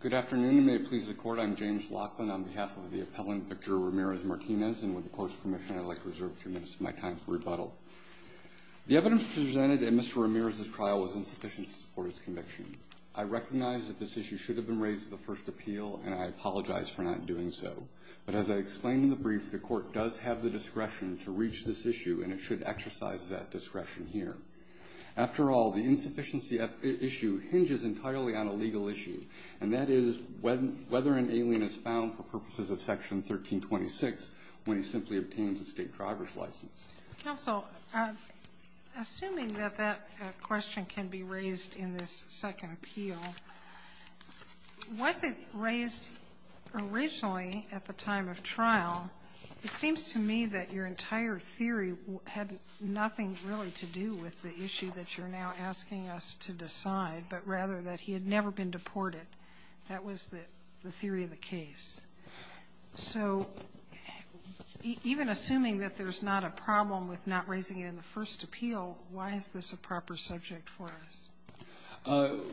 Good afternoon and may it please the court, I'm James Laughlin on behalf of the appellant Victor Ramirez Martinez and with the court's permission I'd like to reserve a few minutes of my time for rebuttal The evidence presented in Mr. Ramirez's trial was insufficient to support his conviction I recognize that this issue should have been raised the first appeal and I apologize for not doing so But as I explained in the brief the court does have the discretion to reach this issue and it should exercise that discretion here After all the insufficiency Issue hinges entirely on a legal issue and that is when whether an alien is found for purposes of section 1326 when he simply obtains a state driver's license also Assuming that that question can be raised in this second appeal Wasn't raised Originally at the time of trial it seems to me that your entire theory had nothing really to do with the issue That you're now asking us to decide but rather that he had never been deported. That was the theory of the case so Even assuming that there's not a problem with not raising it in the first appeal. Why is this a proper subject for us?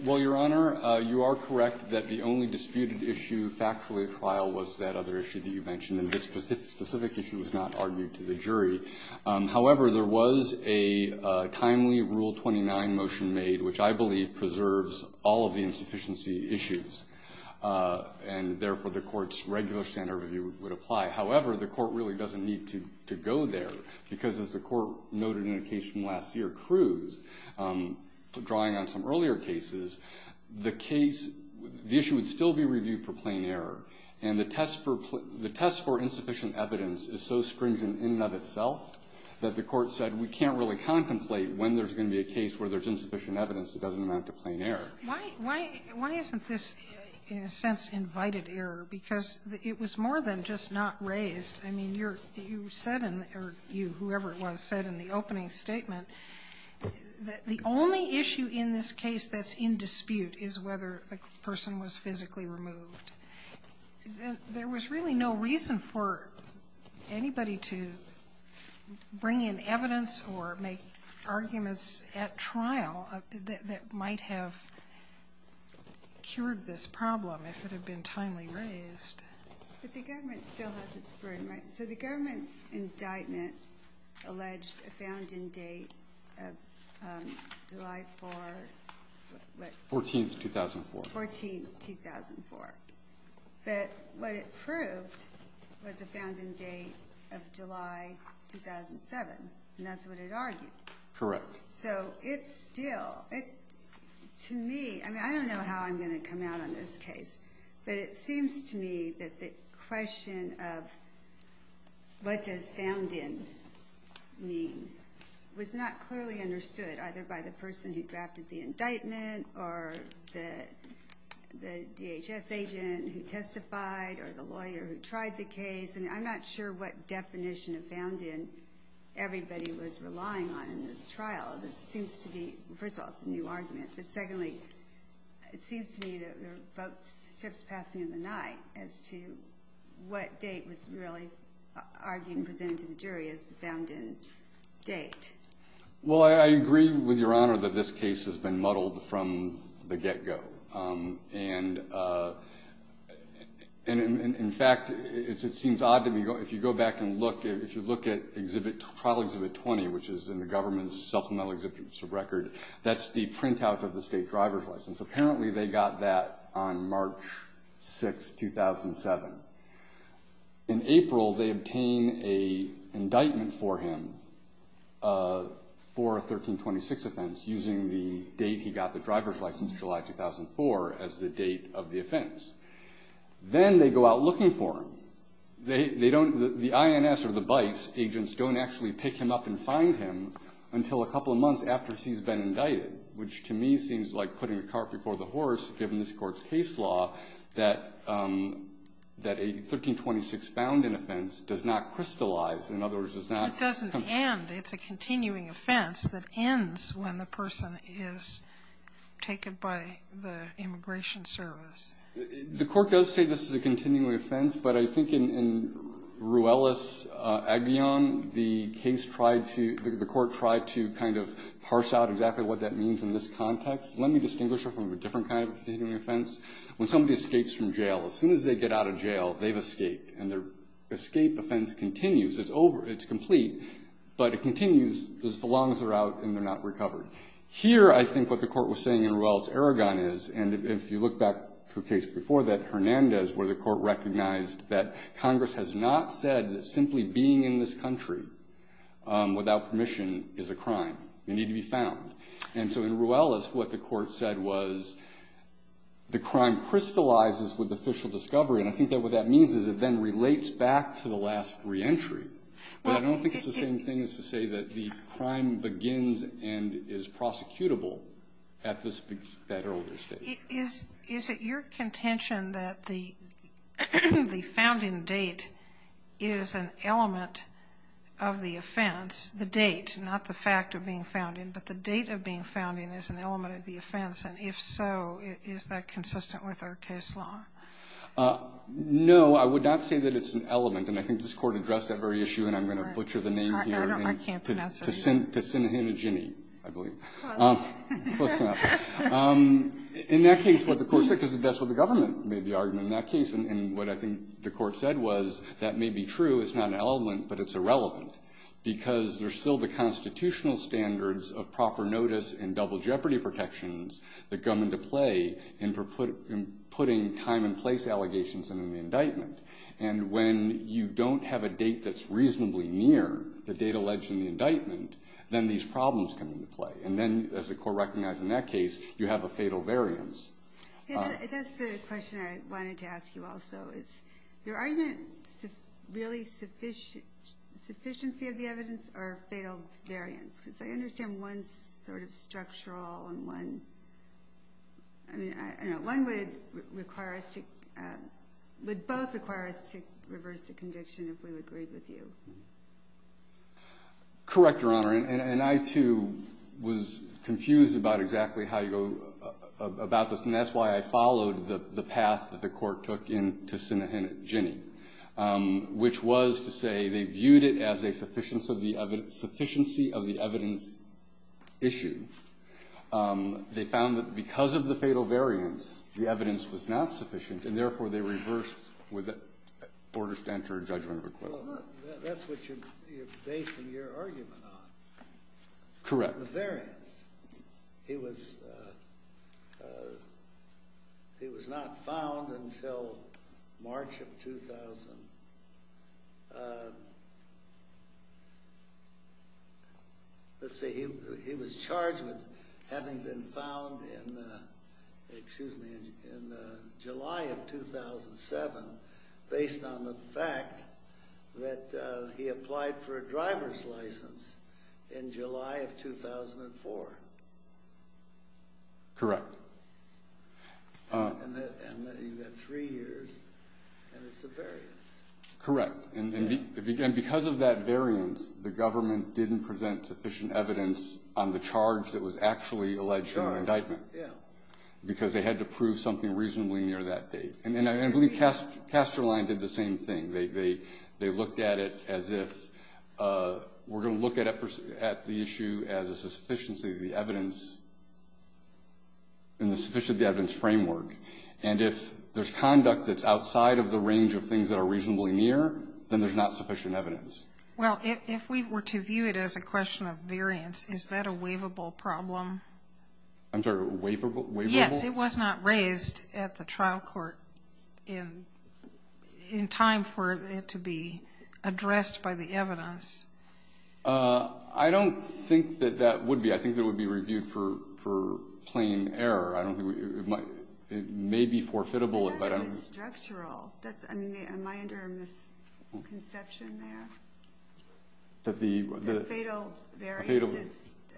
Well, Your Honor, you are correct that the only disputed issue factually trial was that other issue that you mentioned in this Specific issue was not argued to the jury however, there was a Timely rule 29 motion made which I believe preserves all of the insufficiency issues And therefore the court's regular standard review would apply However, the court really doesn't need to to go there because as the court noted in a case from last year Cruz drawing on some earlier cases the case The issue would still be reviewed for plain error and the test for the test for insufficient evidence is so stringent in and of itself That the court said we can't really contemplate when there's going to be a case where there's insufficient evidence It doesn't amount to plain error Why why why isn't this in a sense invited error because it was more than just not raised I mean, you're you said in or you whoever it was said in the opening statement That the only issue in this case that's in dispute is whether the person was physically removed There was really no reason for Anybody to bring in evidence or make arguments at trial that might have Cured this problem if it had been timely raised So the government's indictment alleged a founding date 14th 2004 14 2004, but what it proved Of July 2007 and that's what it argued correct. So it's still it To me. I mean, I don't know how I'm gonna come out on this case, but it seems to me that the question of What does found in? mean was not clearly understood either by the person who drafted the indictment or the DHS agent who testified or the lawyer who tried the case and I'm not sure what definition of found in Everybody was relying on in this trial. This seems to be first of all, it's a new argument. But secondly It seems to me that we're both ships passing in the night as to what date was really Arguing presented to the jury is the found in date Well, I agree with your honor that this case has been muddled from the get-go and And in fact, it's it seems odd to me go if you go back and look if you look at exhibit trial exhibit 20 Which is in the government's supplemental exhibits of record. That's the printout of the state driver's license. Apparently they got that on March 6 2007 in April they obtain a indictment for him For 1326 offense using the date he got the driver's license July 2004 as the date of the offense Then they go out looking for him They don't the INS or the Bice agents don't actually pick him up and find him Until a couple of months after she's been indicted which to me seems like putting the cart before the horse given this court's case law that That a 1326 found in offense does not crystallize in other words. It's not doesn't and it's a continuing offense that ends when the person is Taken by the immigration service. The court does say this is a continuing offense, but I think in Ruelas Aguillon the case tried to the court tried to kind of parse out exactly what that means in this context Let me distinguish it from a different kind of continuing offense when somebody escapes from jail as soon as they get out of jail They've escaped and their escape offense continues It's over it's complete, but it continues as long as they're out and they're not recovered here I think what the court was saying in Ruelas Aragon is and if you look back to a case before that Hernandez where the court recognized that Congress has not said that simply being in this country Without permission is a crime. They need to be found. And so in Ruelas what the court said was The crime crystallizes with official discovery. And I think that what that means is it then relates back to the last reentry But I don't think it's the same thing as to say that the crime begins and is prosecutable at this federal state is is it your contention that the the founding date is an element of the offense the date not the fact of being found in but the date of being found in is an element of the offense and If so, is that consistent with our case law? No, I would not say that it's an element and I think this court addressed that very issue and I'm going to butcher the name To send to send him a jimmy In that case what the course because that's what the government made the argument in that case and what I think the court said was That may be true. It's not an element, but it's irrelevant because there's still the constitutional standards of proper notice and double jeopardy protections That come into play and for put in putting time and place allegations and in the indictment and When you don't have a date that's reasonably near the date alleged in the indictment Then these problems come into play and then as the court recognized in that case you have a fatal variance Wanted to ask you also is your argument really sufficient Sufficiency of the evidence or fatal variance because I understand one sort of structural and one I Mean, I know one would require us to But both require us to reverse the conviction if we would agree with you Correct your honor and I too was confused about exactly how you go About this and that's why I followed the the path that the court took in to send a hint Jenny Which was to say they viewed it as a sufficiency of the evidence sufficiency of the evidence issue They found that because of the fatal variance the evidence was not sufficient and therefore they reversed with it orders to enter a judgment Correct the variance it was It was not found until March of 2000 Let's say he was charged with having been found in Excuse me in July of 2007 based on the fact That he applied for a driver's license in July of 2004 Correct And Correct and Because of that variance the government didn't present sufficient evidence on the charge that was actually alleged to indictment Yeah, because they had to prove something reasonably near that date and then I believe cast castroline did the same thing they they they looked at it as if We're going to look at it at the issue as a sufficiency of the evidence Sufficient the evidence framework and if there's conduct that's outside of the range of things that are reasonably near then there's not sufficient evidence Well, if we were to view it as a question of variance, is that a waivable problem? I'm sorry waverable. Yes. It was not raised at the trial court in In time for it to be addressed by the evidence I don't think that that would be I think that would be reviewed for for plain error I don't think it might it may be for fit a bullet, but I'm structural. That's I mean, am I under misconception there? that the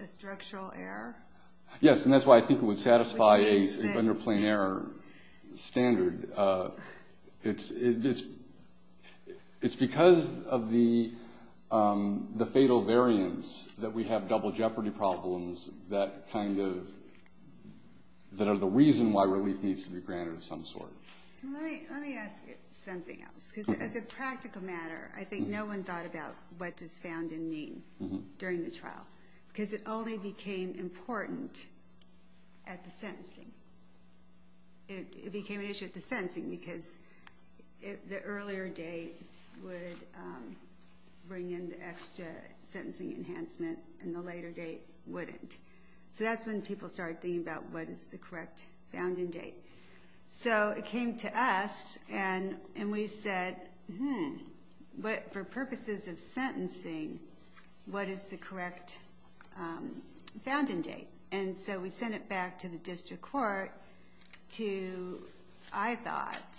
Structural error. Yes, and that's why I think it would satisfy a under plain error standard it's it's it's because of the the fatal variance that we have double jeopardy problems that kind of That are the reason why relief needs to be granted of some sort As a practical matter, I think no one thought about what does found in mean during the trial because it only became important at the sentencing it became an issue at the sentencing because the earlier date would Bring in the extra sentencing enhancement and the later date wouldn't so that's when people start thinking about What is the correct found in date? So it came to us and and we said hmm, but for purposes of sentencing What is the correct? Found in date and so we sent it back to the district court to I thought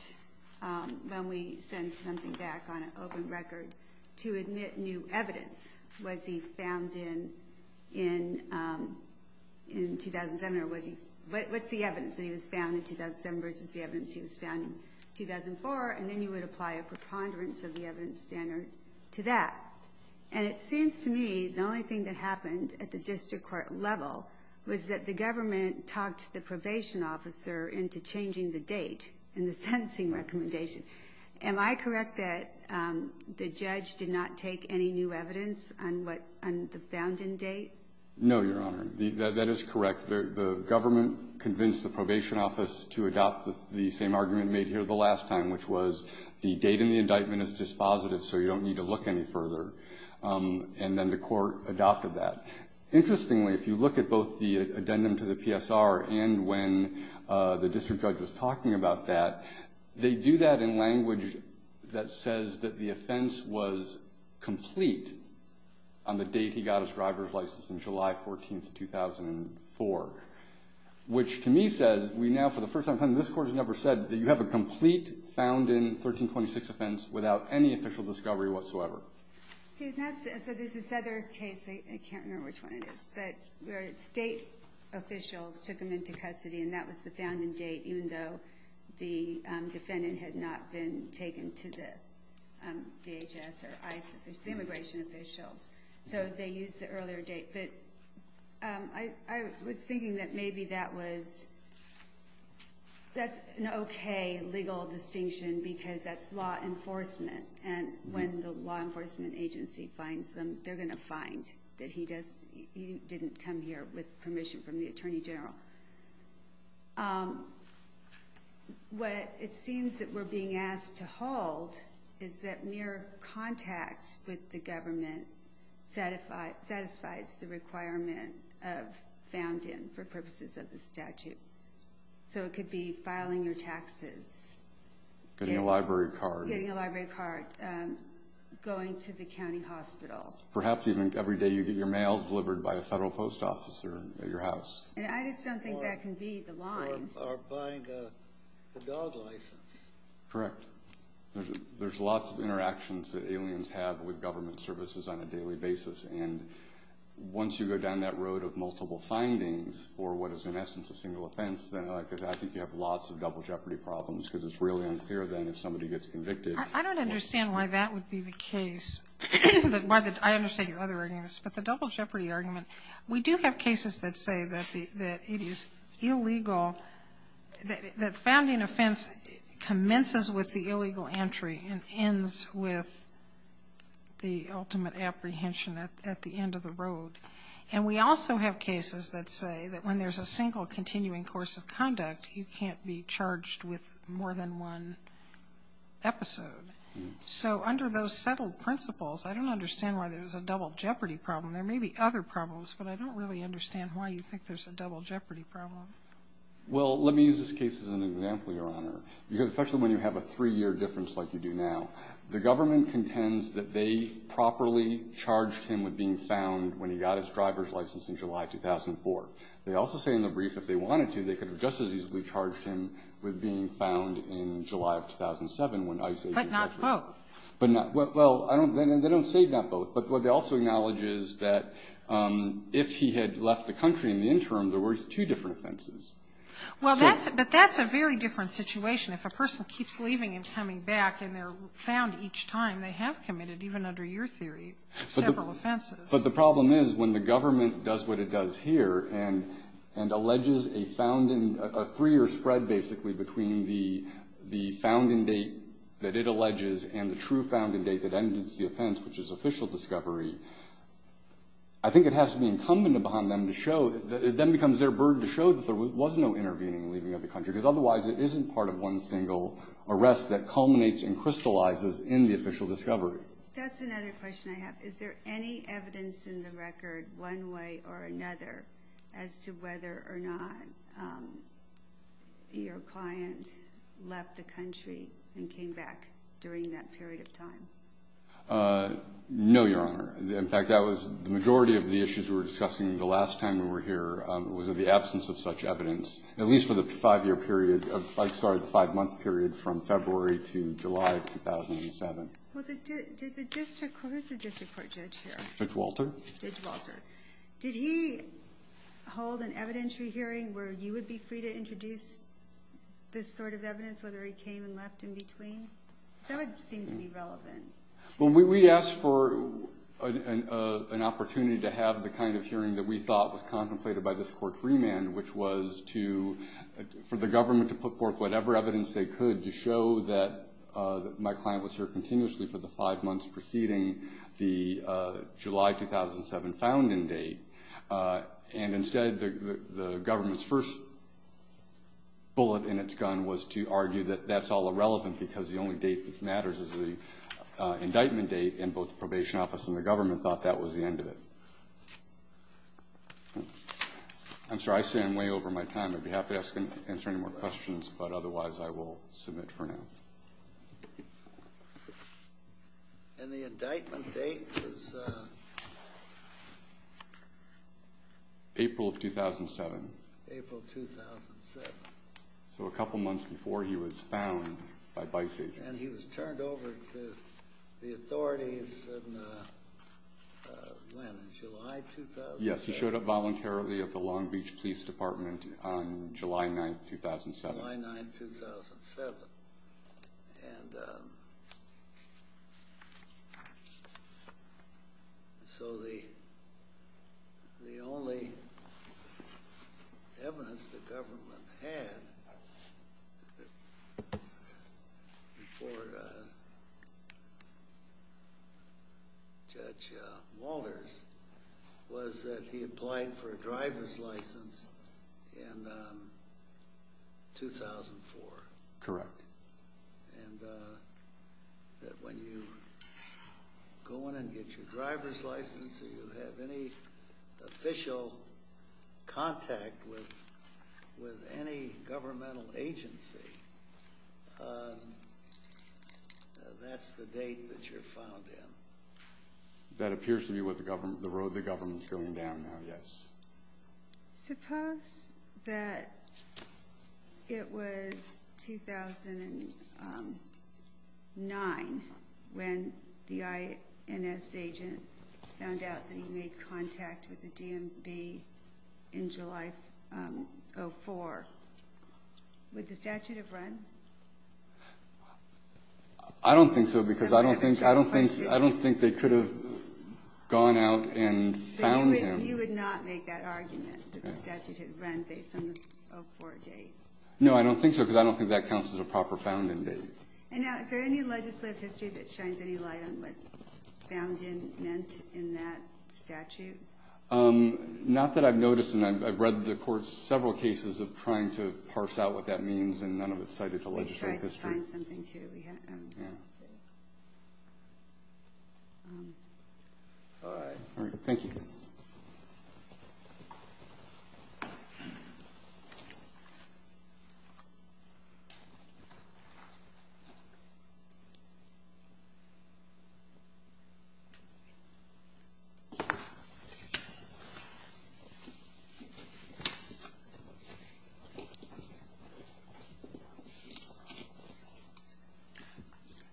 When we send something back on an open record to admit new evidence was he found in in In 2007 or was he but what's the evidence that he was found in 2007 versus the evidence he was found in 2004 and then you would apply a preponderance of the evidence standard to that and it seems to me the only thing that happened at the district court level Was that the government talked the probation officer into changing the date and the sentencing recommendation? Am I correct that? The judge did not take any new evidence on what and the found in date No, your honor That is correct the government Convinced the probation office to adopt the same argument made here the last time which was the date and the indictment is dispositive So you don't need to look any further And then the court adopted that Interestingly, if you look at both the addendum to the PSR and when the district judge was talking about that They do that in language that says that the offense was complete on the date he got his driver's license in July 14th 2004 Which to me says we now for the first time time this court has never said that you have a complete Found in 1326 offense without any official discovery whatsoever So there's this other case. I can't remember which one it is, but state officials took him into custody and that was the founding date even though the Defendant had not been taken to the DHS or ICE immigration officials, so they use the earlier date, but I was thinking that maybe that was That's an okay legal distinction because that's law enforcement and when the law enforcement Agency finds them they're gonna find that he does he didn't come here with permission from the Attorney General What It seems that we're being asked to hold is that mere contact with the government satisfied satisfies the requirement of Found in for purposes of the statute so it could be filing your taxes Getting a library card getting a library card Going to the county hospital perhaps even every day you get your mail delivered by a federal post officer at your house I just don't think that can be the line Correct there's lots of interactions that aliens have with government services on a daily basis and Once you go down that road of multiple findings or what is in essence a single offense Then I could I think you have lots of double jeopardy problems because it's really unclear then if somebody gets convicted I don't understand why that would be the case But why did I understand your other arguments, but the double jeopardy argument we do have cases that say that the that it is illegal that founding offense commences with the illegal entry and ends with the ultimate apprehension at the end of the road And we also have cases that say that when there's a single continuing course of conduct you can't be charged with more than one episode So under those settled principles, I don't understand why there's a double jeopardy problem there may be other problems But I don't really understand why you think there's a double jeopardy problem Well, let me use this case as an example your honor because especially when you have a three-year difference like you do now The government contends that they properly charged him with being found when he got his driver's license in July 2004 They also say in the brief if they wanted to they could have just as easily charged him with being found in July of 2007 when I say but not well, but not well, I don't they don't say that both but what they also acknowledges that If he had left the country in the interim, there were two different offenses Well, that's but that's a very different situation If a person keeps leaving and coming back and they're found each time they have committed even under your theory but the problem is when the government does what it does here and and That it alleges and the true found in date that ends the offense which is official discovery I Think it has to be incumbent upon them to show that it then becomes their burden to show that there was no intervening leaving of The country because otherwise it isn't part of one single arrest that culminates and crystallizes in the official discovery That's another question. I have is there any evidence in the record one way or another as to whether or not? Your client left the country and came back during that period of time No, your honor In fact, that was the majority of the issues we were discussing the last time we were here Was it the absence of such evidence at least for the five-year period of like sorry the five-month period from February to July? 2007 Judge Walter Did he? Hold an evidentiary hearing where you would be free to introduce This sort of evidence whether he came and left in between Well, we asked for an opportunity to have the kind of hearing that we thought was contemplated by this court's remand, which was to for the government to put forth whatever evidence they could to show that my client was here continuously for the five months preceding the July 2007 found in date And instead the government's first bullet in its gun was to argue that that's all irrelevant because the only date that matters is the Indictment date and both the probation office and the government thought that was the end of it I'm sorry. I stand way over my time. I'd be happy asking answer any more questions, but otherwise I will submit for now And the indictment date April of 2007 So a couple months before he was found by vice-agent and he was turned over to the authorities Yes, he showed up voluntarily at the Long Beach Police Department on July 9th 2007 So the Only Evidence the government had Before Judge Walters was that he applied for a driver's license in 2004 correct and That when you Go on and get your driver's license or you have any official contact with with any governmental agency That's the date that you're found in that appears to be what the government the road the government's going down now, yes suppose that It was 2009 When the INS agent found out that he made contact with the DMV in July for with the statute of run I Don't think so because I don't think I don't think I don't think they could have gone out and You would not make that argument No, I don't think so because I don't think that counts as a proper found in date Not that I've noticed and I've read the court's several cases of trying to parse out what that means and none of its cited to legislative history Something to Thank you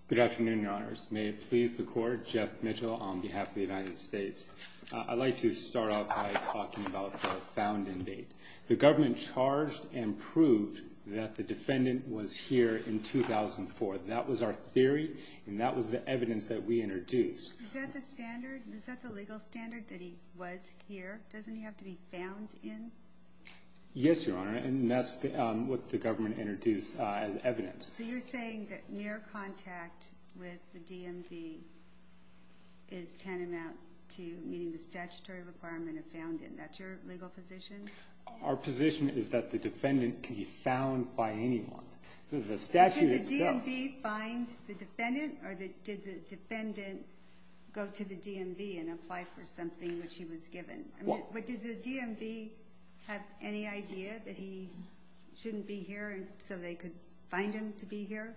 Good afternoon, your honors. May it please the court Jeff Mitchell on behalf of the United States I'd like to start off by talking about found in date The government charged and proved that the defendant was here in 2004 that was our theory and that was the evidence that we introduced The standard is that the legal standard that he was here doesn't he have to be found in Yes, your honor. And that's what the government introduced as evidence. So you're saying that mere contact with the DMV is Tantamount to meeting the statutory requirement of found in that's your legal position Our position is that the defendant can be found by anyone the statute itself Find the defendant or that did the defendant Go to the DMV and apply for something which he was given. Well, what did the DMV have any idea that he? Shouldn't be here and so they could find him to be here.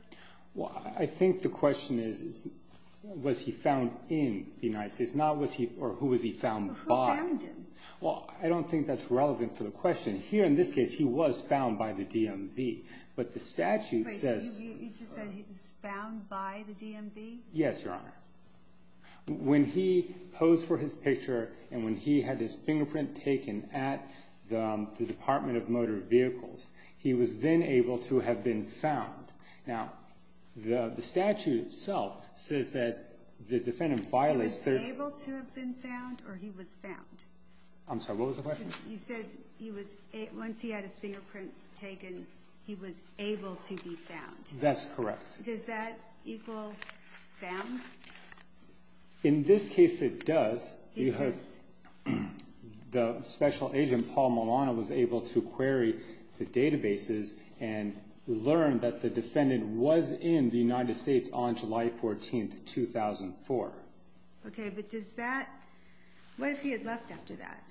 Well, I think the question is Was he found in the United States not was he or who was he found by? Well, I don't think that's relevant for the question here in this case. He was found by the DMV, but the statute says It's found by the DMV. Yes, your honor when he posed for his picture and when he had his fingerprint taken at The Department of Motor Vehicles, he was then able to have been found now The the statute itself says that the defendant violates their able to have been found or he was found I'm sorry, what was the question? You said he was once he had his fingerprints taken. He was able to be found. That's correct Is that equal? In this case it does you heard the special agent Paul Milano was able to query the databases and Learned that the defendant was in the United States on July 14th 2004 Okay, but does that? What if he had left after that?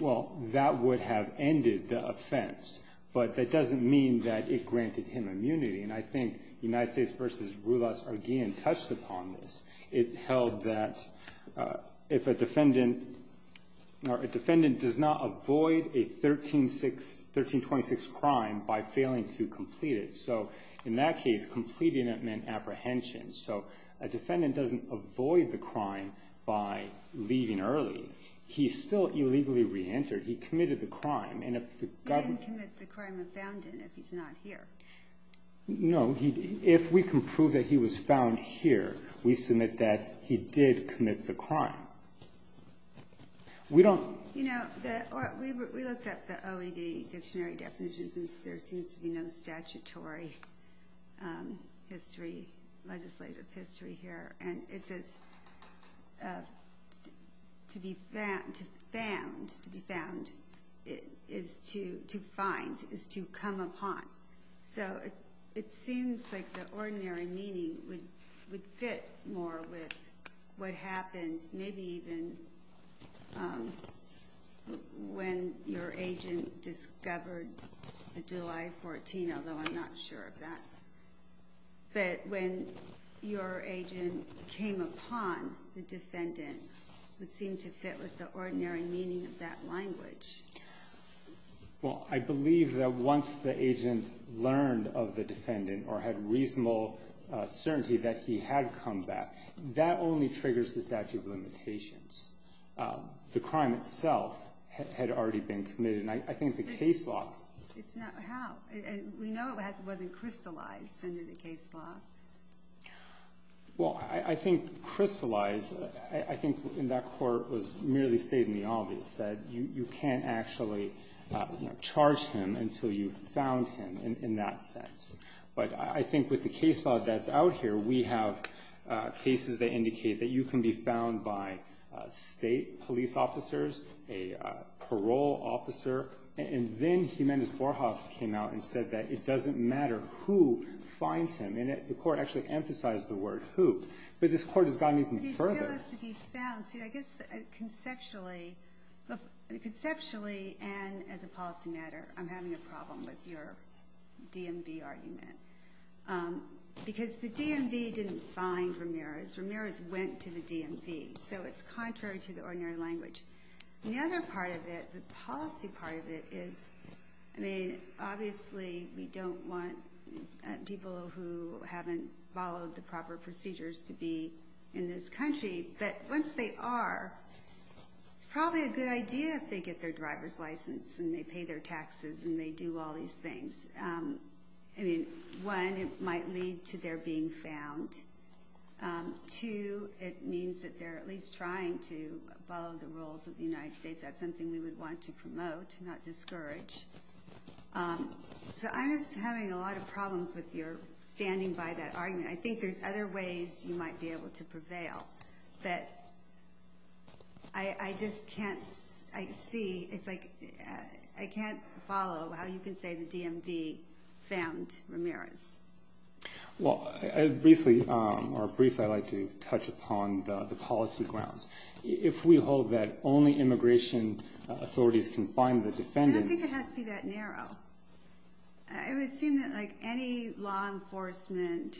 Well, that would have ended the offense But that doesn't mean that it granted him immunity and I think the United States versus rule us again touched upon this it held that if a defendant Or a defendant does not avoid a 13 6 13 26 crime by failing to complete it so in that case completing it meant apprehension, so a defendant doesn't avoid the crime by Leaving early. He's still illegally re-entered. He committed the crime and No, he if we can prove that he was found here we submit that he did commit the crime We don't There seems to be no statutory History legislative history here and it says To be found to found to be found it is to to find is to come upon So it seems like the ordinary meaning would would fit more with what happened. Maybe even When your agent discovered the July 14, although I'm not sure of that but when your agent came upon the defendant Would seem to fit with the ordinary meaning of that language Well, I believe that once the agent learned of the defendant or had reasonable Certainty that he had come back that only triggers the statute of limitations The crime itself had already been committed and I think the case law We know it wasn't crystallized in the case law Well, I I think crystallized I think in that court was merely stating the obvious that you you can't actually Charge him until you found him in that sense, but I think with the case law that's out here. We have cases that indicate that you can be found by state police officers a Parole officer and then Jimenez Borjas came out and said that it doesn't matter who Finds him in it. The court actually emphasized the word who but this court has gotten even further Conceptually Conceptually and as a policy matter, I'm having a problem with your DMV argument Because the DMV didn't find Ramirez Ramirez went to the DMV. So it's contrary to the ordinary language The other part of it the policy part of it is I mean, obviously we don't want People who haven't followed the proper procedures to be in this country, but once they are It's probably a good idea if they get their driver's license and they pay their taxes and they do all these things I mean one it might lead to their being found To it means that they're at least trying to follow the rules of the United States That's something we would want to promote not discourage So I'm just having a lot of problems with your standing by that argument I think there's other ways you might be able to prevail that I Just can't I see it's like I can't follow how you can say the DMV found Ramirez Well, I recently are brief I like to touch upon the policy grounds if we hold that only immigration authorities can find the defendant It would seem that like any law enforcement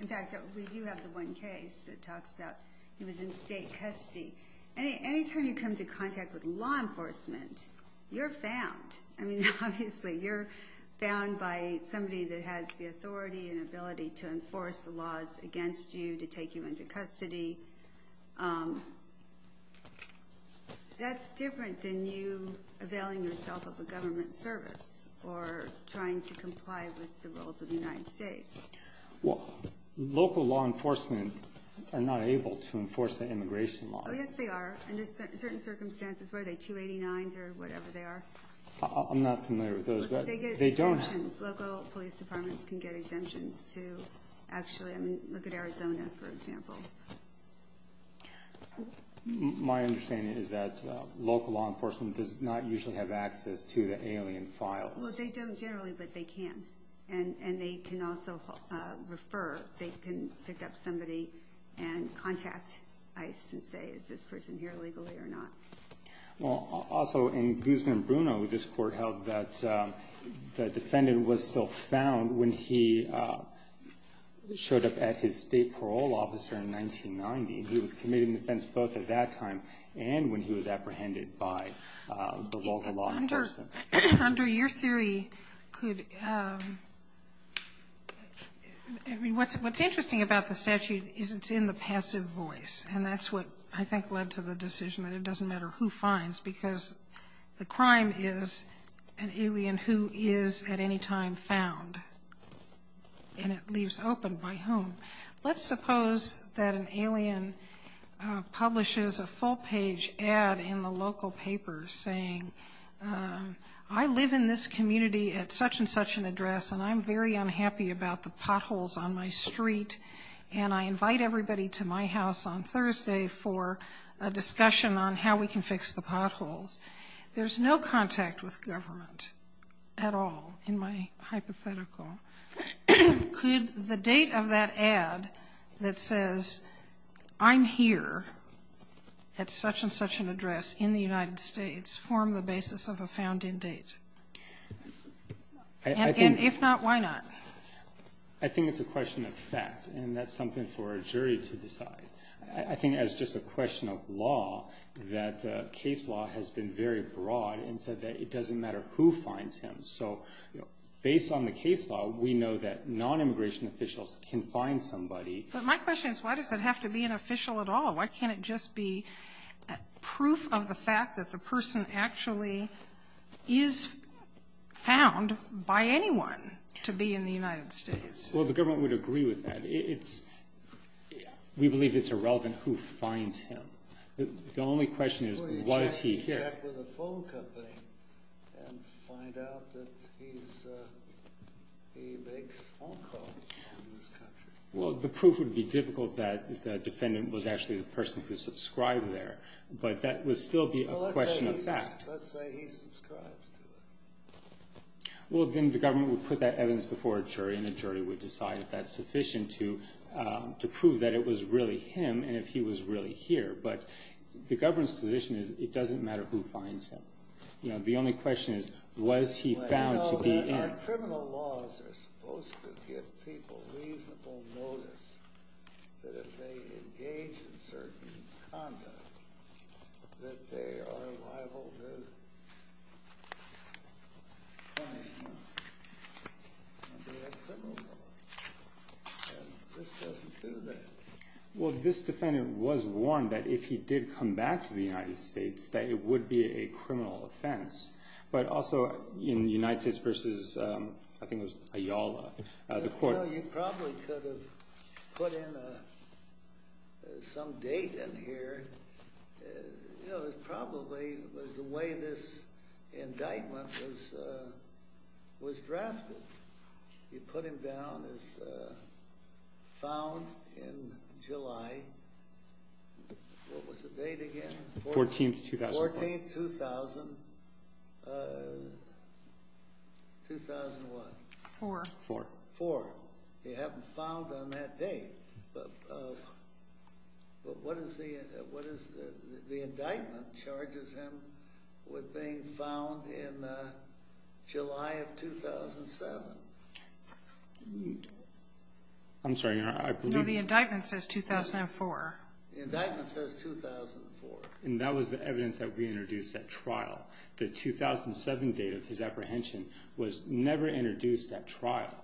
In fact, we do have the one case that talks about he was in state custody And anytime you come to contact with law enforcement You're found I mean obviously you're found by somebody that has the authority and ability to enforce the laws Against you to take you into custody That's different than you availing yourself of a government service or Trying to comply with the rules of the United States Well local law enforcement are not able to enforce the immigration law They are under certain circumstances where they 289s or whatever they are I'm not familiar with those but they don't local police departments can get exemptions to Actually, I mean look at Arizona for example My understanding is that local law enforcement does not usually have access to the alien files Well, they don't generally but they can and and they can also Refer they can pick up somebody and Legally or not well also in Guzman Bruno this court held that the defendant was still found when he Showed up at his state parole officer in 1990 He was committed in defense both at that time and when he was apprehended by the local law under your theory could I Mean what's what's interesting about the statute is it's in the passive voice and that's what I think led to the decision that it doesn't matter who finds because The crime is an alien who is at any time found And it leaves open by home. Let's suppose that an alien publishes a full-page ad in the local papers saying I live in this community at such-and-such an address and I'm very unhappy about the potholes on my street And I invite everybody to my house on Thursday for a discussion on how we can fix the potholes There's no contact with government at all in my hypothetical Could the date of that ad that says I'm here At such-and-such an address in the United States form the basis of a found-in date If not, why not I Think it's a question of fact and that's something for a jury to decide I think as just a question of law that case law has been very broad and said that it doesn't matter who finds him So, you know based on the case law, we know that non-immigration officials can find somebody but my question is Why can't it just be proof of the fact that the person actually is Found by anyone to be in the United States. Well, the government would agree with that. It's We believe it's irrelevant who finds him. The only question is what is he? Well, the proof would be difficult that the defendant was actually the person who subscribed there but that would still be a question of fact Well, then the government would put that evidence before a jury and a jury would decide if that's sufficient to To prove that it was really him. And if he was really here, but the government's position is it doesn't matter who finds him Was he found to be in Well, this defendant was one that if he did come back to the United States that it would be a criminal offense but also in the United States versus I think was a y'all the court 14th Of 2001 for for for you haven't found on that day, but But what is the what is the indictment charges him with being found in? July of 2007 I'm sorry. I believe the indictment says 2004 And that was the evidence that we introduced at trial the 2007 date of his apprehension was never introduced at trial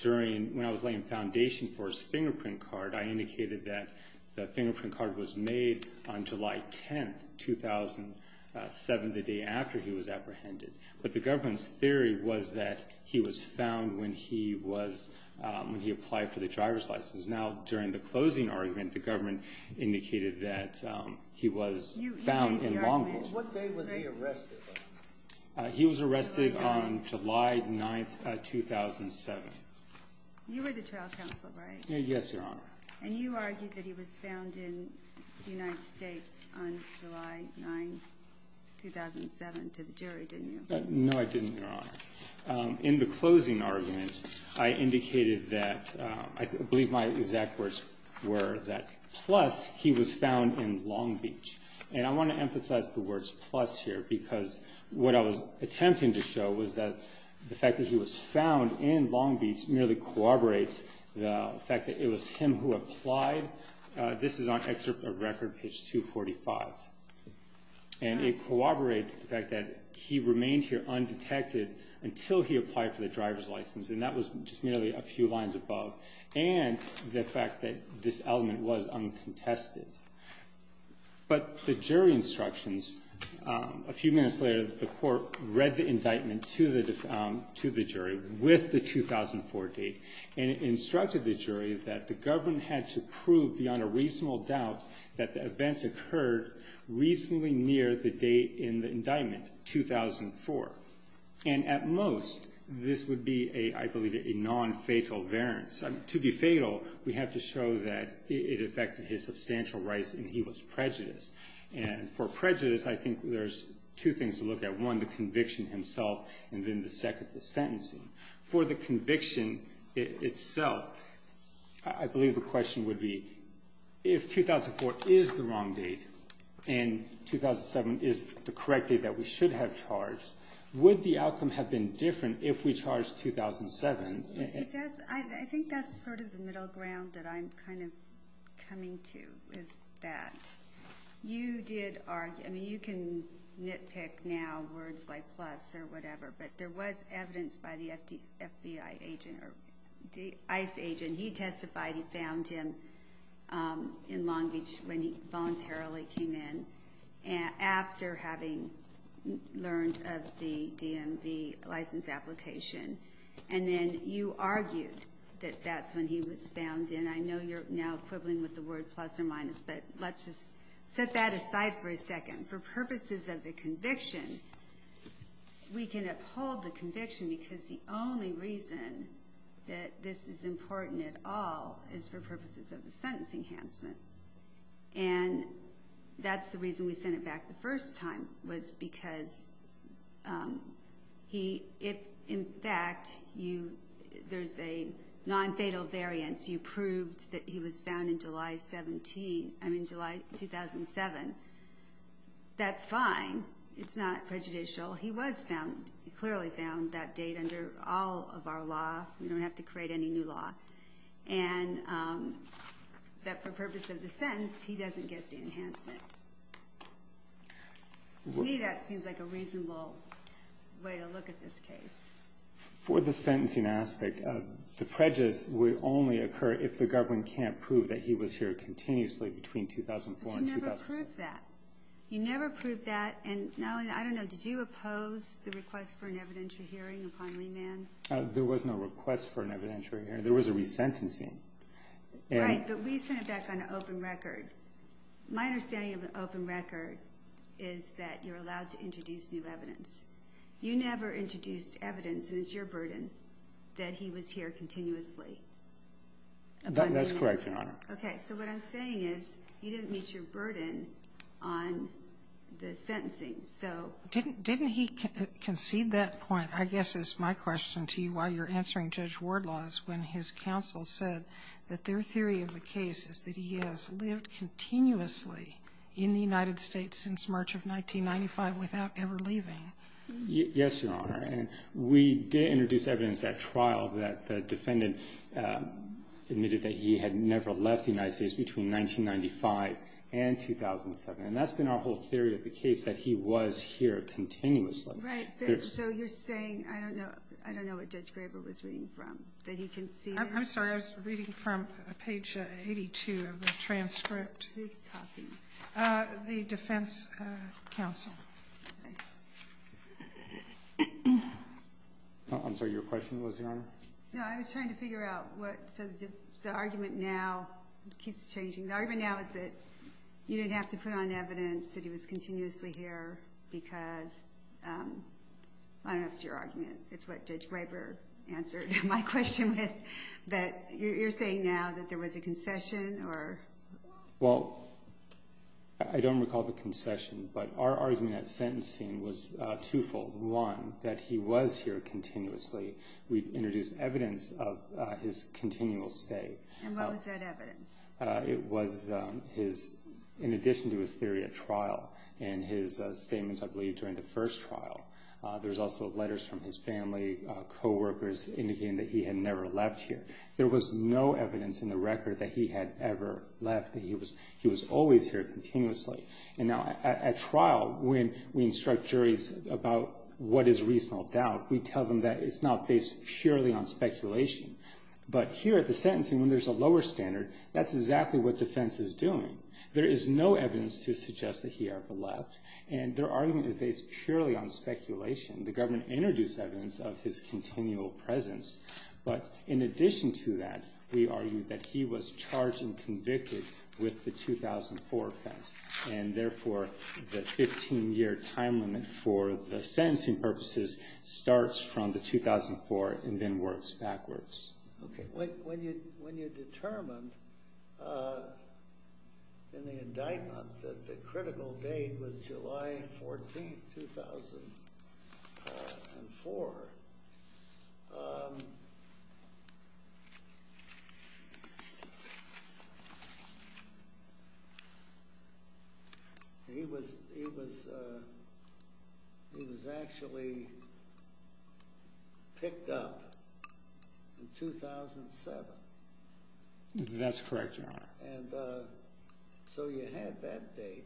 During when I was laying foundation for his fingerprint card. I indicated that the fingerprint card was made on July 10th 2007 the day after he was apprehended But the government's theory was that he was found when he was when he applied for the driver's license now during the closing argument the government indicated that He was found in long He was arrested on July 9th 2007 Yes, your honor and you argued that he was found in the United States No, I didn't in the closing arguments Indicated that I believe my exact words were that plus he was found in Long Beach and I want to emphasize the words plus here because What I was attempting to show was that the fact that he was found in Long Beach merely Cooperates the fact that it was him who applied this is on excerpt of record page 245 and It cooperates the fact that he remained here undetected Until he applied for the driver's license and that was just merely a few lines above and the fact that this element was uncontested but the jury instructions a few minutes later the court read the indictment to the to the jury with the 2004 date and Instructed the jury that the government had to prove beyond a reasonable doubt that the events occurred reasonably near the date in the indictment 2004 and at most this would be a I believe it a non-fatal variance to be fatal We have to show that it affected his substantial rights and he was prejudiced and for prejudice I think there's two things to look at one the conviction himself and then the second the sentencing for the conviction itself, I believe the question would be if 2004 is the wrong date and 2007 is the correct date that we should have charged would the outcome have been different if we charge 2007 I think that's sort of the middle ground that I'm kind of coming to is that You did argue. I mean you can nitpick now words like plus or whatever But there was evidence by the FD FBI agent or the ICE agent. He testified he found him In Long Beach when he voluntarily came in and after having learned of the DMV license application And then you argued that that's when he was found in I know you're now equivalent with the word plus or minus But let's just set that aside for a second for purposes of the conviction We can uphold the conviction because the only reason That this is important at all is for purposes of the sentence enhancement and That's the reason we sent it back the first time was because He if in fact you There's a non-fatal variance. You proved that he was found in July 17. I mean July 2007 That's fine. It's not prejudicial He was found he clearly found that date under all of our law. We don't have to create any new law and That for purpose of the sentence he doesn't get the enhancement To me that seems like a reasonable way to look at this case For the sentencing aspect of the prejudice would only occur if the government can't prove that he was here continuously between 2004 You never proved that and now I don't know did you oppose the request for an evidentiary hearing upon remand? There was no request for an evidentiary here. There was a resentencing Right, but we sent it back on an open record My understanding of an open record is that you're allowed to introduce new evidence You never introduced evidence and it's your burden that he was here continuously And that's correct, okay, so what I'm saying is you didn't meet your burden on The sentencing so didn't didn't he concede that point? I guess it's my question to you while you're answering judge ward laws when his counsel said that their theory of the case is That he has lived continuously in the United States since March of 1995 without ever leaving Yes, your honor and we did introduce evidence at trial that the defendant Admitted that he had never left the United States between 1995 and 2007 and that's been our whole theory of the case that he was here continuously I'm sorry. I was reading from page 82 of the transcript The defense counsel I'm Sorry, your question was your honor. No, I was trying to figure out what so the argument now keeps changing the argument now is that you didn't have to put on evidence that he was continuously here because I Don't know if it's your argument. It's what judge Graber answered my question with that you're saying now that there was a concession or well, I Want that he was here continuously we introduced evidence of his continual stay It was his in addition to his theory at trial and his statements I believe during the first trial There's also letters from his family Coworkers indicating that he had never left here There was no evidence in the record that he had ever left that he was he was always here continuously And now at trial when we instruct juries about what is reasonable doubt we tell them that it's not based purely on Speculation but here at the sentencing when there's a lower standard. That's exactly what defense is doing There is no evidence to suggest that he ever left and their argument is based purely on speculation The government introduced evidence of his continual presence But in addition to that, we argued that he was charged and convicted with the 2004 offense And therefore the 15-year time limit for the sentencing purposes Starts from the 2004 and then works backwards when you when you determined In the indictment that the critical date was July 14 2004 He was he was He was actually Picked up in 2007 That's correct So you had that date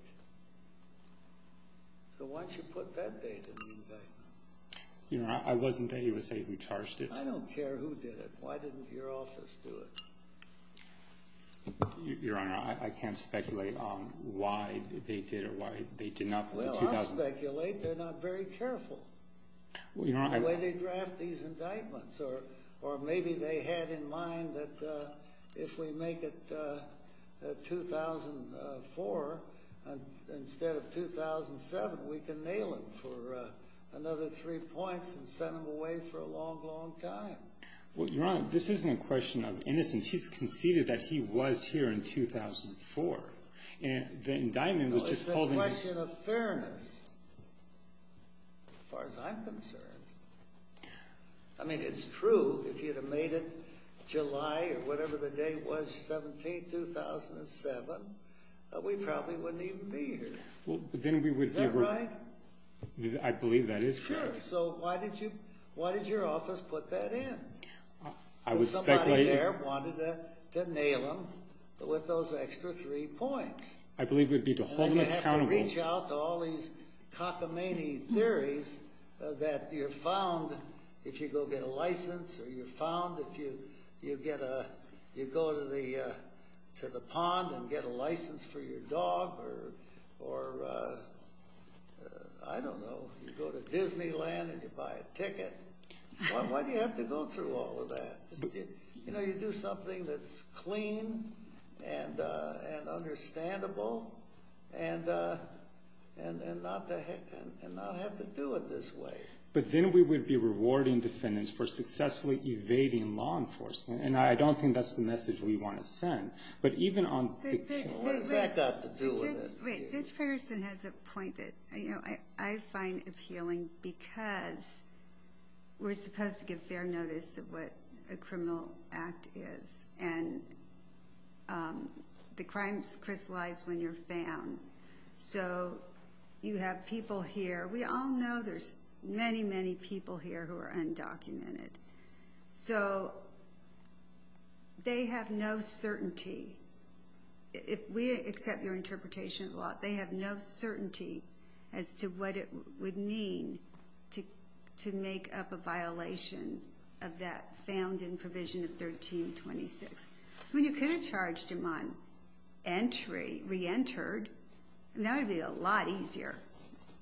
So once you put that date You know, I wasn't that you would say who charged it. I don't care who did it. Why didn't your office do it? Your honor, I can't speculate on why they did or why they did not They're not very careful Well, you're on the way. They draft these indictments or or maybe they had in mind that if we make it 2004 instead of 2007 we can nail it for Another three points and send them away for a long long time. Well, you're on this isn't a question of innocence He's conceded that he was here in 2004 and the indictment was just holding I mean, it's true. If you'd have made it July or whatever the day was 17 2007 we probably wouldn't even be here. Well, but then we would say right I Believe that is true. So why did you why did your office put that in? I Didn't nail them but with those extra three points, I believe would be to hold them accountable reach out to all these cockamamie theories that you're found if you go get a license or you're found if you you get a you go to the to the pond and get a license for your dog or or I Don't know Ticket You have to go through all of that, you know, you do something that's clean and Understandable and But then we would be rewarding defendants for successfully evading law enforcement and I don't think that's the message we want to send but even on Person has appointed, you know, I I find appealing because We're supposed to give fair notice of what a criminal act is and The crimes crystallized when you're found so You have people here. We all know there's many many people here who are undocumented so They have no certainty If we accept your interpretation a lot, they have no certainty as to what it would mean to Make up a violation of that found in provision of 1326 when you could have charged him on entry re-entered That'd be a lot easier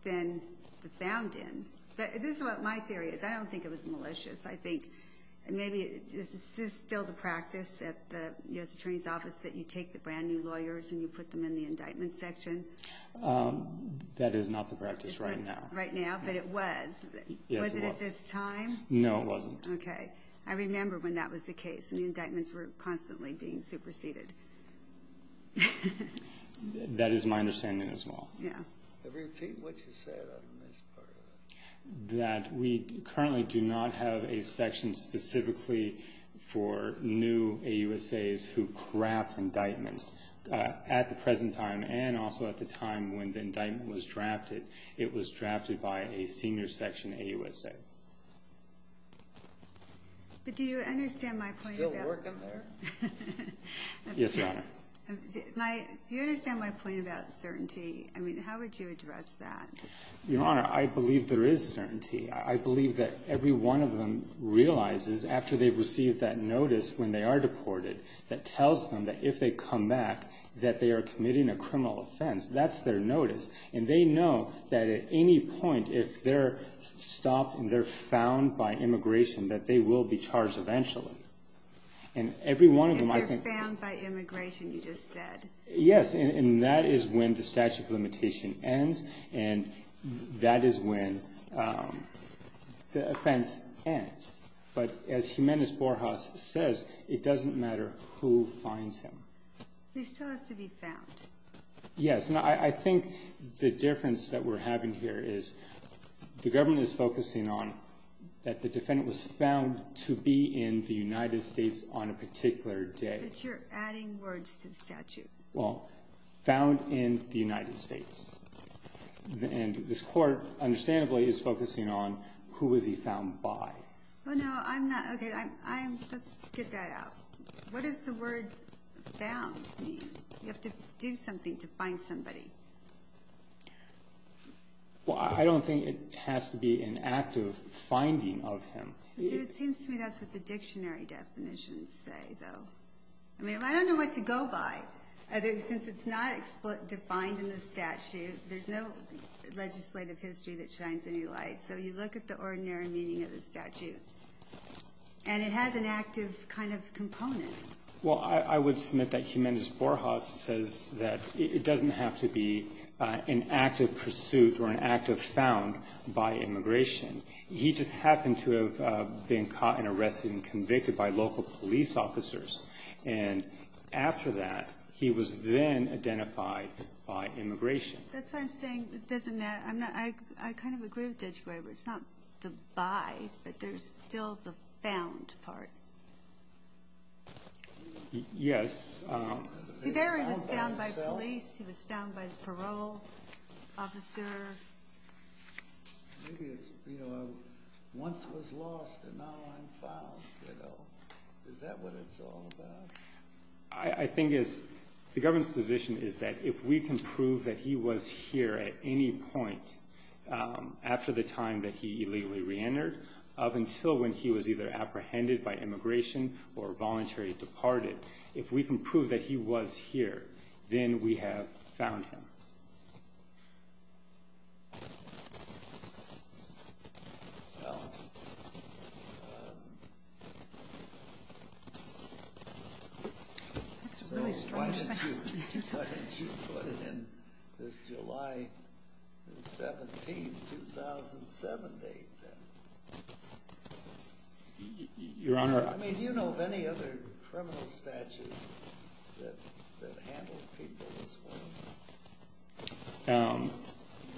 than the found in but this is what my theory is. I don't think it was malicious I think Maybe this is still the practice at the US Attorney's Office that you take the brand new lawyers and you put them in the indictment section That is not the practice right now right now, but it was At this time, no, it wasn't. Okay. I remember when that was the case and the indictments were constantly being superseded That is my understanding as well That we currently do not have a section specifically for New a USA's who craft indictments at the present time and also at the time when the indictment was drafted It was drafted by a senior section a USA But do you understand my Yes, your honor My you understand my point about certainty. I mean, how would you address that your honor? I believe there is certainty I believe that every one of them Realizes after they've received that notice when they are deported that tells them that if they come back That they are committing a criminal offense That's their notice and they know that at any point if they're stopped and they're found by immigration that they will be charged eventually and Every one of them I think Yes, and that is when the statute of limitation ends and that is when The offense ends but as Jimenez Borjas says it doesn't matter who finds him Yes, and I think the difference that we're having here is The government is focusing on that The defendant was found to be in the United States on a particular day But you're adding words to the statute well found in the United States And this court understandably is focusing on who was he found by? To do something to find somebody Well, I don't think it has to be an active finding of him I mean, I don't know what to go by other since it's not defined in the statute. There's no Legislative history that shines a new light. So you look at the ordinary meaning of the statute And it has an active kind of component Well, I would submit that Jimenez Borjas says that it doesn't have to be an active pursuit or an active found by immigration he just happened to have been caught and arrested and convicted by local police officers and After that, he was then identified by immigration It's not the by but there's still the found part Yes I Think is the government's position. Is that if we can prove that he was here at any point After the time that he illegally reentered up until when he was either apprehended by immigration or voluntary Departed if we can prove that he was here then we have found him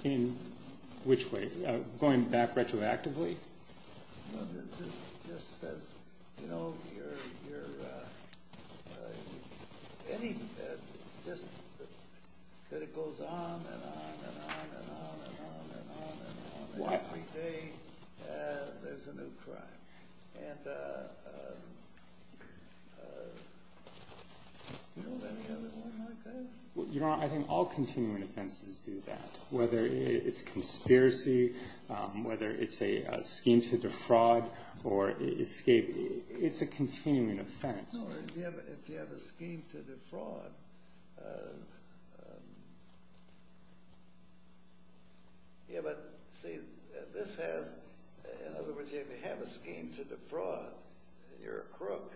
In Which way going back retroactively I Think all continuing offenses do that whether it's conspiracy Whether it's a scheme to defraud or escape. It's a continuing offense If you have a scheme to defraud Yeah, but see this has in other words if you have a scheme to defraud You're a crook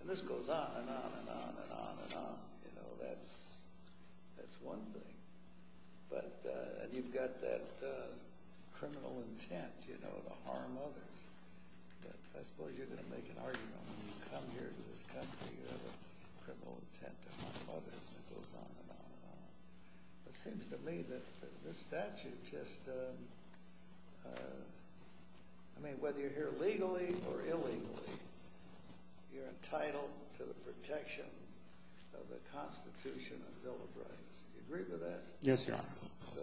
and this goes on and on and on and on and on, you know, that's That's one thing but and you've got that Criminal intent, you know I Mean whether you're here legally or illegally You're entitled to the protection of the Constitution Yes, sir Oh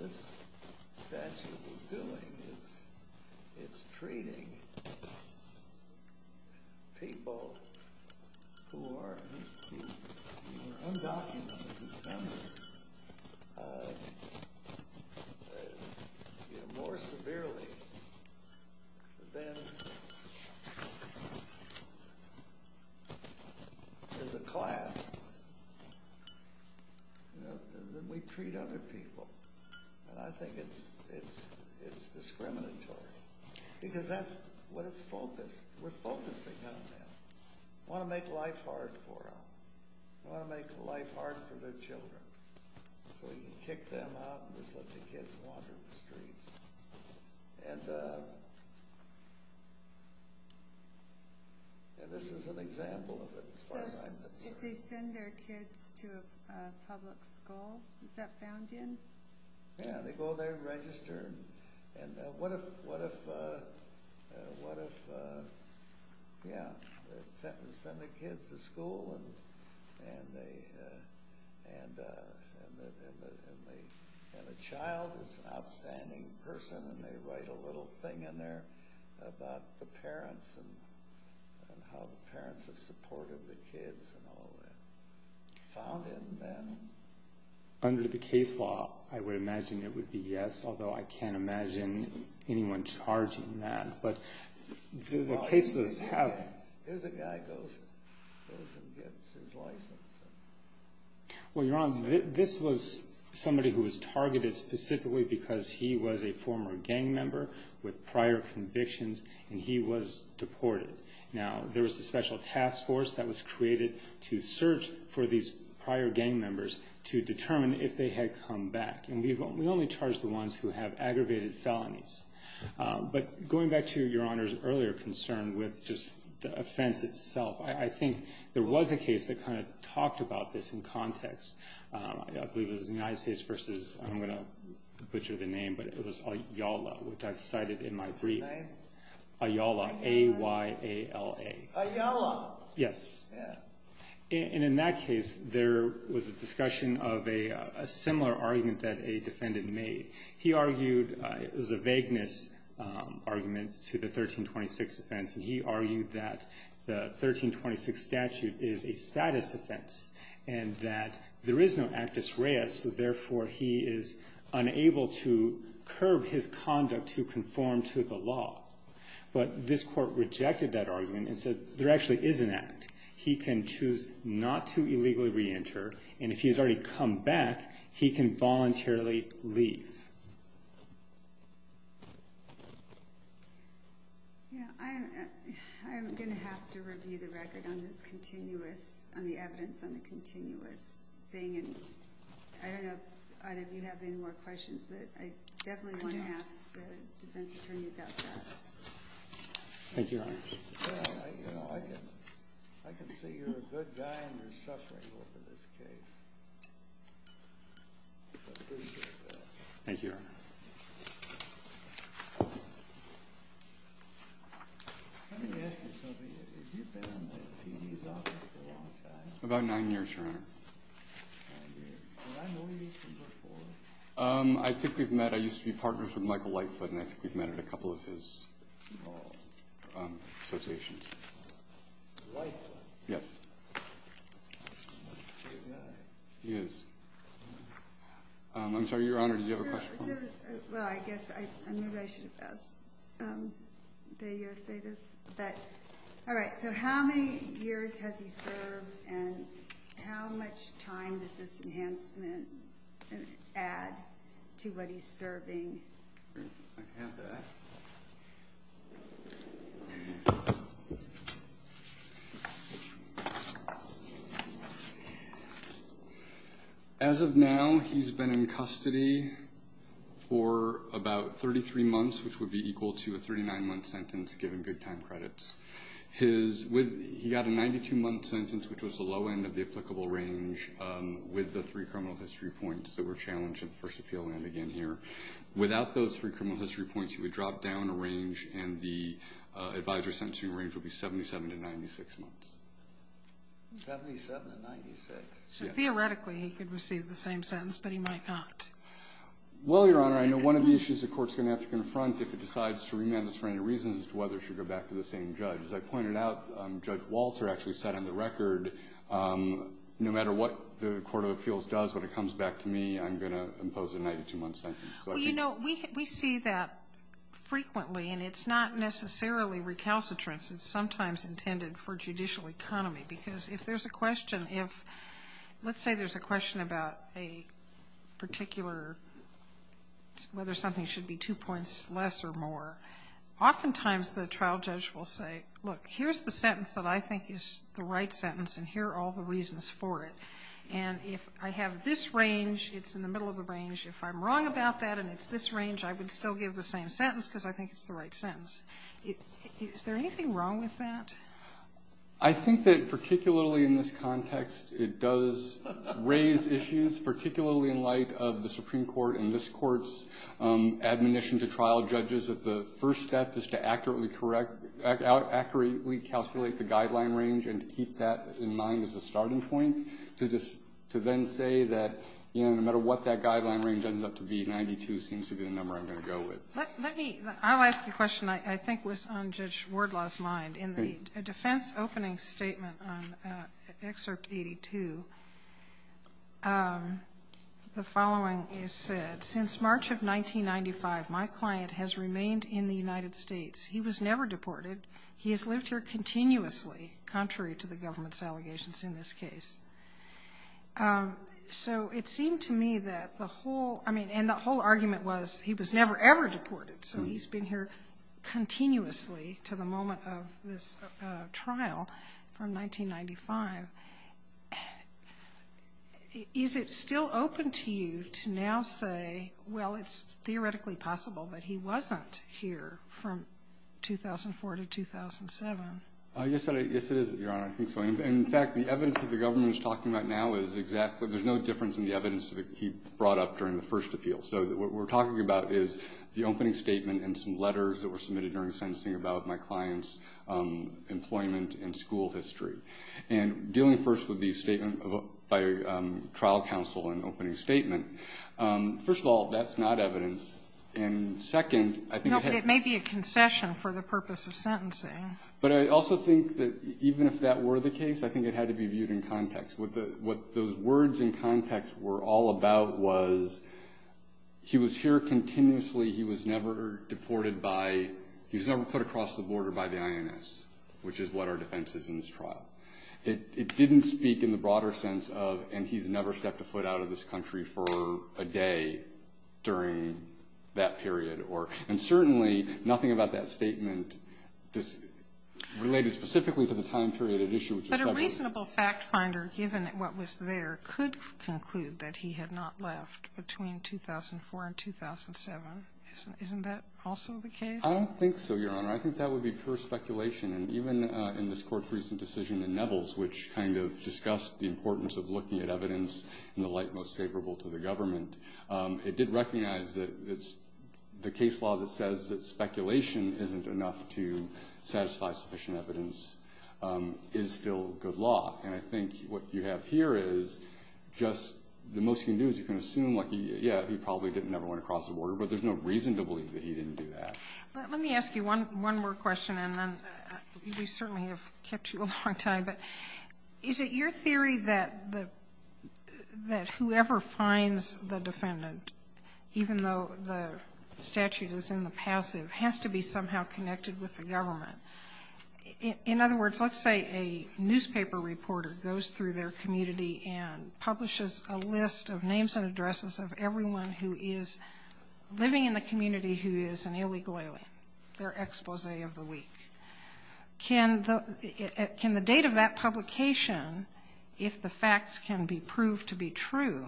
This It's trading People I More severely There's a class Then we treat other people and I think it's it's it's discriminatory Because that's what it's focused. We're focusing on them I want to make life hard for them. I want to make life hard for their children so we can kick them out and just let the kids wander the streets and And this is an example of it They send their kids to a public school. Is that found in? Yeah, they go there register. And what if what if? What if? Yeah, send the kids to school and and they and And a child is an outstanding person and they write a little thing in there about the parents and how the parents have supported the kids and all found in Under the case law. I would imagine it would be yes, although I can't imagine anyone charging that but The cases have Well, you're on this was somebody who was targeted specifically because he was a former gang member with prior convictions And he was deported now There was a special task force that was created to search for these prior gang members To determine if they had come back and we've only charged the ones who have aggravated felonies But going back to your honor's earlier concern with just the offense itself I think there was a case that kind of talked about this in context I believe it was the United States versus I'm gonna butcher the name, but it was a Yala which I've cited in my brief Ayala a Y a L a a yellow. Yes And in that case there was a discussion of a similar argument that a defendant made he argued It was a vagueness argument to the 1326 offense and he argued that the 1326 statute is a status offense and that there is no actus reis So therefore he is unable to curb his conduct to conform to the law But this court rejected that argument and said there actually is an act He can choose not to illegally reenter and if he has already come back he can voluntarily leave I Am gonna have to review the record on this continuous on the evidence on the continuous thing And I don't know either of you have any more questions, but I definitely want to ask the defense attorney about that Thank you I Think we've met I used to be partners with Michael Lightfoot and I think we've met at a couple of his Associations Yes Yes I'm sorry, Your Honor. Do you have a question? Alright, so how many years has he served and how much time does this enhancement Add to what he's serving As Of now he's been in custody For about 33 months, which would be equal to a 39 month sentence given good time credits His with he got a 92 month sentence, which was the low end of the applicable range With the three criminal history points that were challenged at the first appeal and again here without those three criminal history points he would drop down a range and the Advisor sent to range will be 77 to 96 months So theoretically he could receive the same sentence, but he might not Well, your honor I know one of the issues the courts gonna have to confront if it decides to remand this for any reasons whether should go Back to the same judge as I pointed out judge Walter actually set on the record No matter what the Court of Appeals does when it comes back to me. I'm gonna impose a 92 month sentence Well, you know we see that Frequently and it's not necessarily recalcitrance, it's sometimes intended for judicial economy because if there's a question if let's say there's a question about a particular Whether something should be two points less or more Oftentimes the trial judge will say look Here's the sentence that I think is the right sentence and here are all the reasons for it And if I have this range, it's in the middle of the range if I'm wrong about that and it's this range I would still give the same sentence because I think it's the right sentence it is there anything wrong with that I Think that particularly in this context it does Raise issues particularly in light of the Supreme Court and this courts Admonition to trial judges that the first step is to accurately correct accurately calculate the guideline range and keep that in mind as a starting point to just to then say that No matter what that guideline range ends up to be 92 seems to be the number I'm going to go with I'll ask the question. I think was on judge Wardlaw's mind in the defense opening statement on excerpt 82 The following is said since March of 1995 my client has remained in the United States. He was never deported He has lived here continuously contrary to the government's allegations in this case So it seemed to me that the whole I mean and the whole argument was he was never ever deported so he's been here continuously to the moment of this trial from 1995 Is it still open to you to now say well, it's theoretically possible that he wasn't here from 2004 to 2007 Yes, it is your honor I think so in fact the evidence that the government is talking about now is exactly there's no difference in the evidence that he brought Up during the first appeal so that what we're talking about is the opening statement and some letters that were submitted during sensing about my clients Employment and school history and dealing first with the statement of a trial counsel and opening statement first of all that's not evidence and Second I think it may be a concession for the purpose of sentencing But I also think that even if that were the case I think it had to be viewed in context with the what those words in context were all about was He was here continuously. He was never deported by he's never put across the border by the INS Which is what our defense is in this trial It didn't speak in the broader sense of and he's never stepped a foot out of this country for a day during That period or and certainly nothing about that statement This Related specifically to the time period of issues But a reasonable fact finder given that what was there could conclude that he had not left between 2004 and 2007 Isn't that also the case? I don't think so your honor I think that would be pure speculation and even in this court's recent decision in Neville's which kind of Discussed the importance of looking at evidence in the light most favorable to the government It did recognize that it's the case law that says that speculation isn't enough to satisfy sufficient evidence Is still good law and I think what you have here is Just the most you can do is you can assume like yeah, he probably didn't never went across the border But there's no reason to believe that he didn't do that. Let me ask you one one more question and then We certainly have kept you a long time. But is it your theory that the That whoever finds the defendant Even though the statute is in the passive has to be somehow connected with the government in other words let's say a newspaper reporter goes through their community and publishes a list of names and addresses of everyone who is Living in the community who is an illegal alien their expose of the week Can Can the date of that publication if the facts can be proved to be true?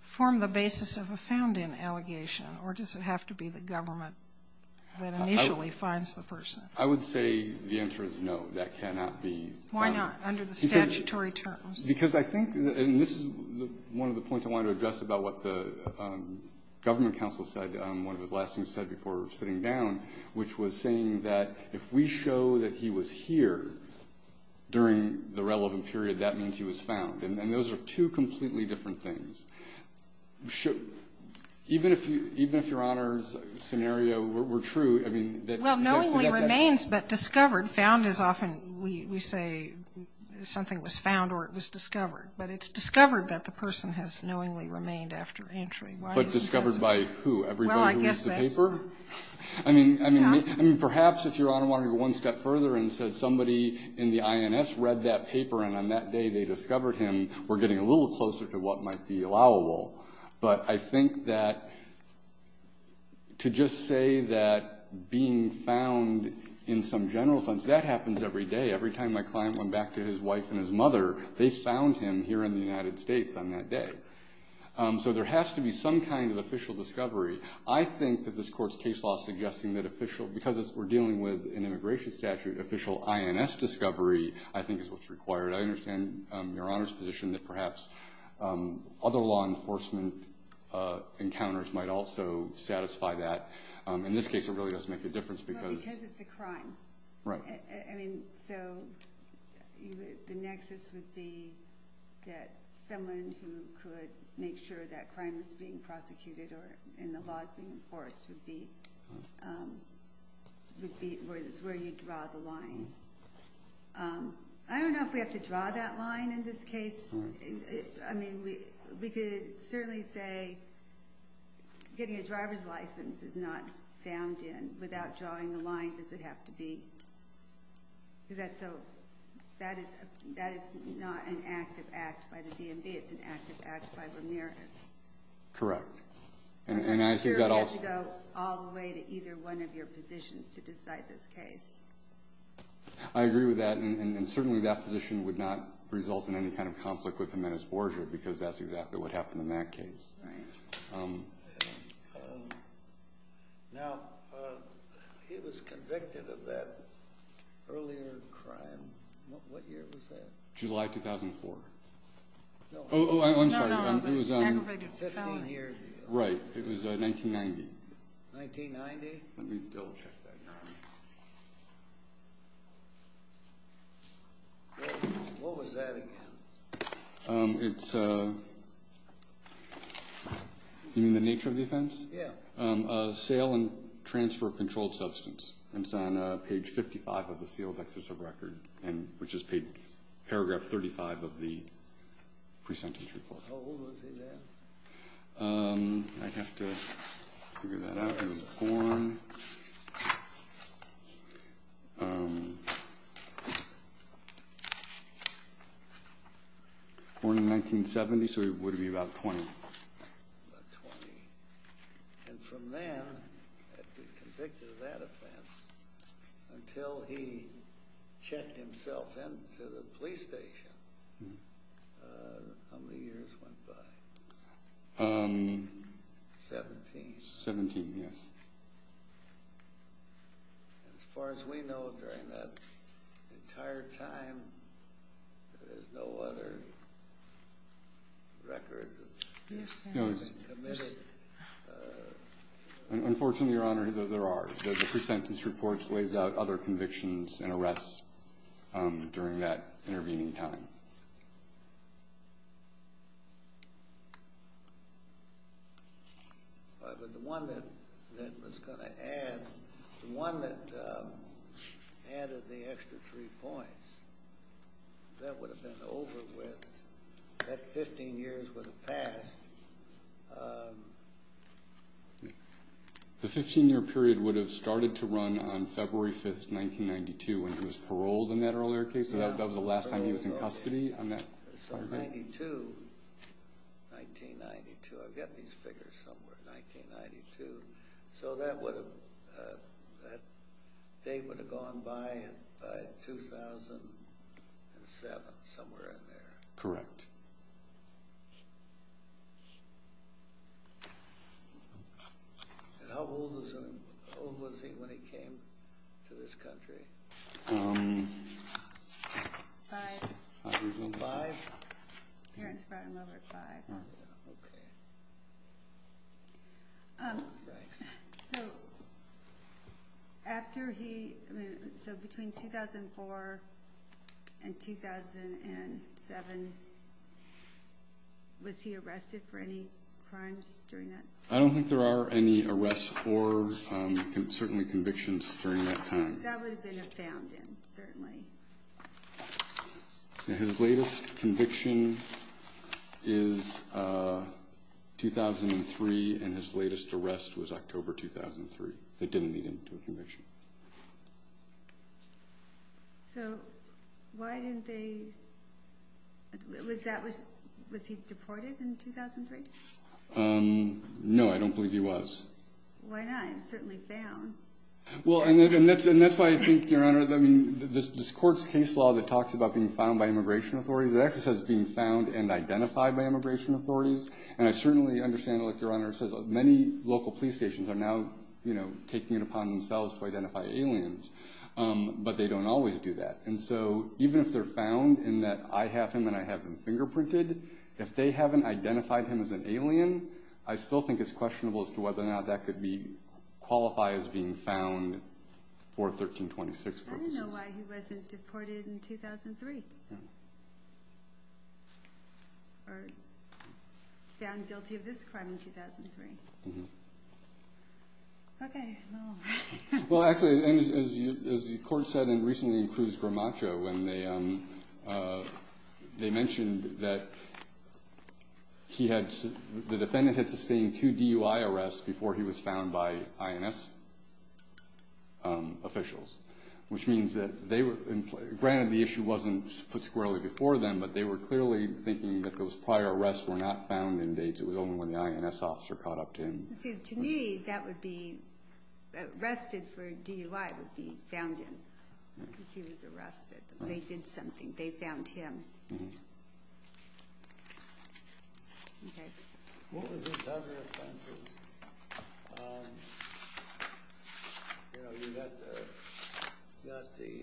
Form the basis of a found in allegation or does it have to be the government? That initially finds the person I would say the answer is no that cannot be why not under the statutory terms because I think and this is one of the points I want to address about what the Government council said one of his last things said before sitting down which was saying that if we show that he was here During the relevant period that means he was found and those are two completely different things should Even if you even if your honors scenario were true I mean that well knowingly remains but discovered found is often we say Something was found or it was discovered, but it's discovered that the person has knowingly remained after entry but discovered by who? I Mean I mean I mean perhaps if you're on one step further and said somebody in the INS read that paper and on that day They discovered him. We're getting a little closer to what might be allowable, but I think that To just say that Being found in some general sense that happens every day every time my client went back to his wife and his mother They found him here in the United States on that day So there has to be some kind of official discovery I think that this court's case law suggesting that official because we're dealing with an immigration statute official INS discovery I think is what's required. I understand your honors position that perhaps other law enforcement Encounters might also satisfy that in this case. It really does make a difference because it's a crime, right? I mean, so the nexus would be That someone who could make sure that crime is being prosecuted or in the laws being enforced would be Would be where this where you draw the line I don't know if we have to draw that line in this case I mean we could certainly say Getting a driver's license is not found in without drawing the line. Does it have to be? Is that so that is that is not an active act by the DMV. It's an active act by Ramirez Correct, and I think that also go all the way to either one of your positions to decide this case. I Because that's exactly what happened in that case July 2004 Right It's You mean the nature of the offense, yeah Sale and transfer of controlled substance. It's on page 55 of the sealed excess of record and which is paid paragraph 35 of the presentation 1970 so it would be about 20 Until he checked himself in to the police station 17 17. Yes As far as we know during that entire time There's no other Record Unfortunately, your honor there are the pre-sentence reports lays out other convictions and arrests during that intervening time But the one that that was going to add the one that Added the extra three points That would have been over with that 15 years would have passed The 15-year period would have started to run on February 5th 1992 and it was paroled in that earlier case. So that was the last time he was in custody on that 1992 so that would have They would have gone by And seven somewhere in there, correct And how old was he when he came to this country After he so between 2004 and 2007 Was he arrested for any crimes during that I don't think there are any arrests or Certainly convictions during that time His latest conviction is 2003 and his latest arrest was October 2003. They didn't need him to a conviction So Why didn't they Was that was was he deported in 2003 No, I don't believe he was Well, and that's and that's why I think your honor I mean this courts case law that talks about being found by immigration authorities It actually says being found and identified by immigration authorities And I certainly understand like your honor says many local police stations are now, you know Taking it upon themselves to identify aliens But they don't always do that And so even if they're found in that I have him and I have been fingerprinted if they haven't identified him as an alien I still think it's questionable as to whether or not that could be Qualify as being found for 1326 I don't know why he wasn't deported in 2003 Found guilty of this crime in 2003 Well, actually as the court said and recently in Cruz Gramaccio when they They mentioned that He had the defendant had sustained two DUI arrests before he was found by INS Officials which means that they were granted the issue wasn't put squarely before them But they were clearly thinking that those prior arrests were not found in dates It was only when the INS officer caught up to him to me that would be Arrested for DUI would be found in because he was arrested. They did something they found him You know, you got the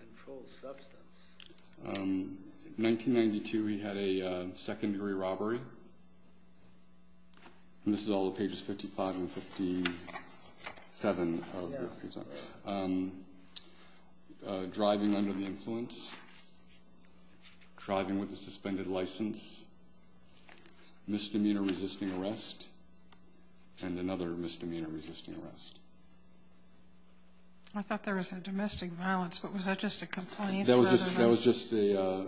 Controlled substance 1992 he had a second-degree robbery And this is all the pages 55 and 57 Driving under the influence Driving with a suspended license Misdemeanor resisting arrest and Another misdemeanor resisting arrest. I Thought there was a domestic violence, but was that just a complaint that was just that was just a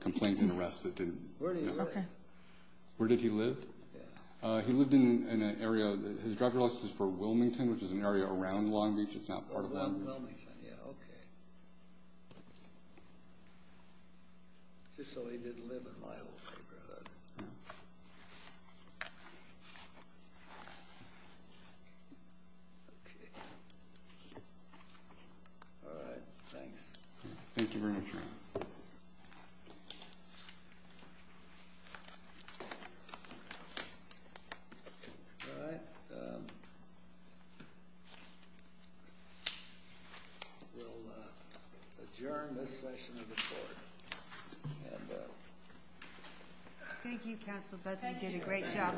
complaint in arrest that didn't Where did he live? He lived in an area his driver's license for Wilmington, which is an area around Long Beach. It's not part of All Thank you council Okay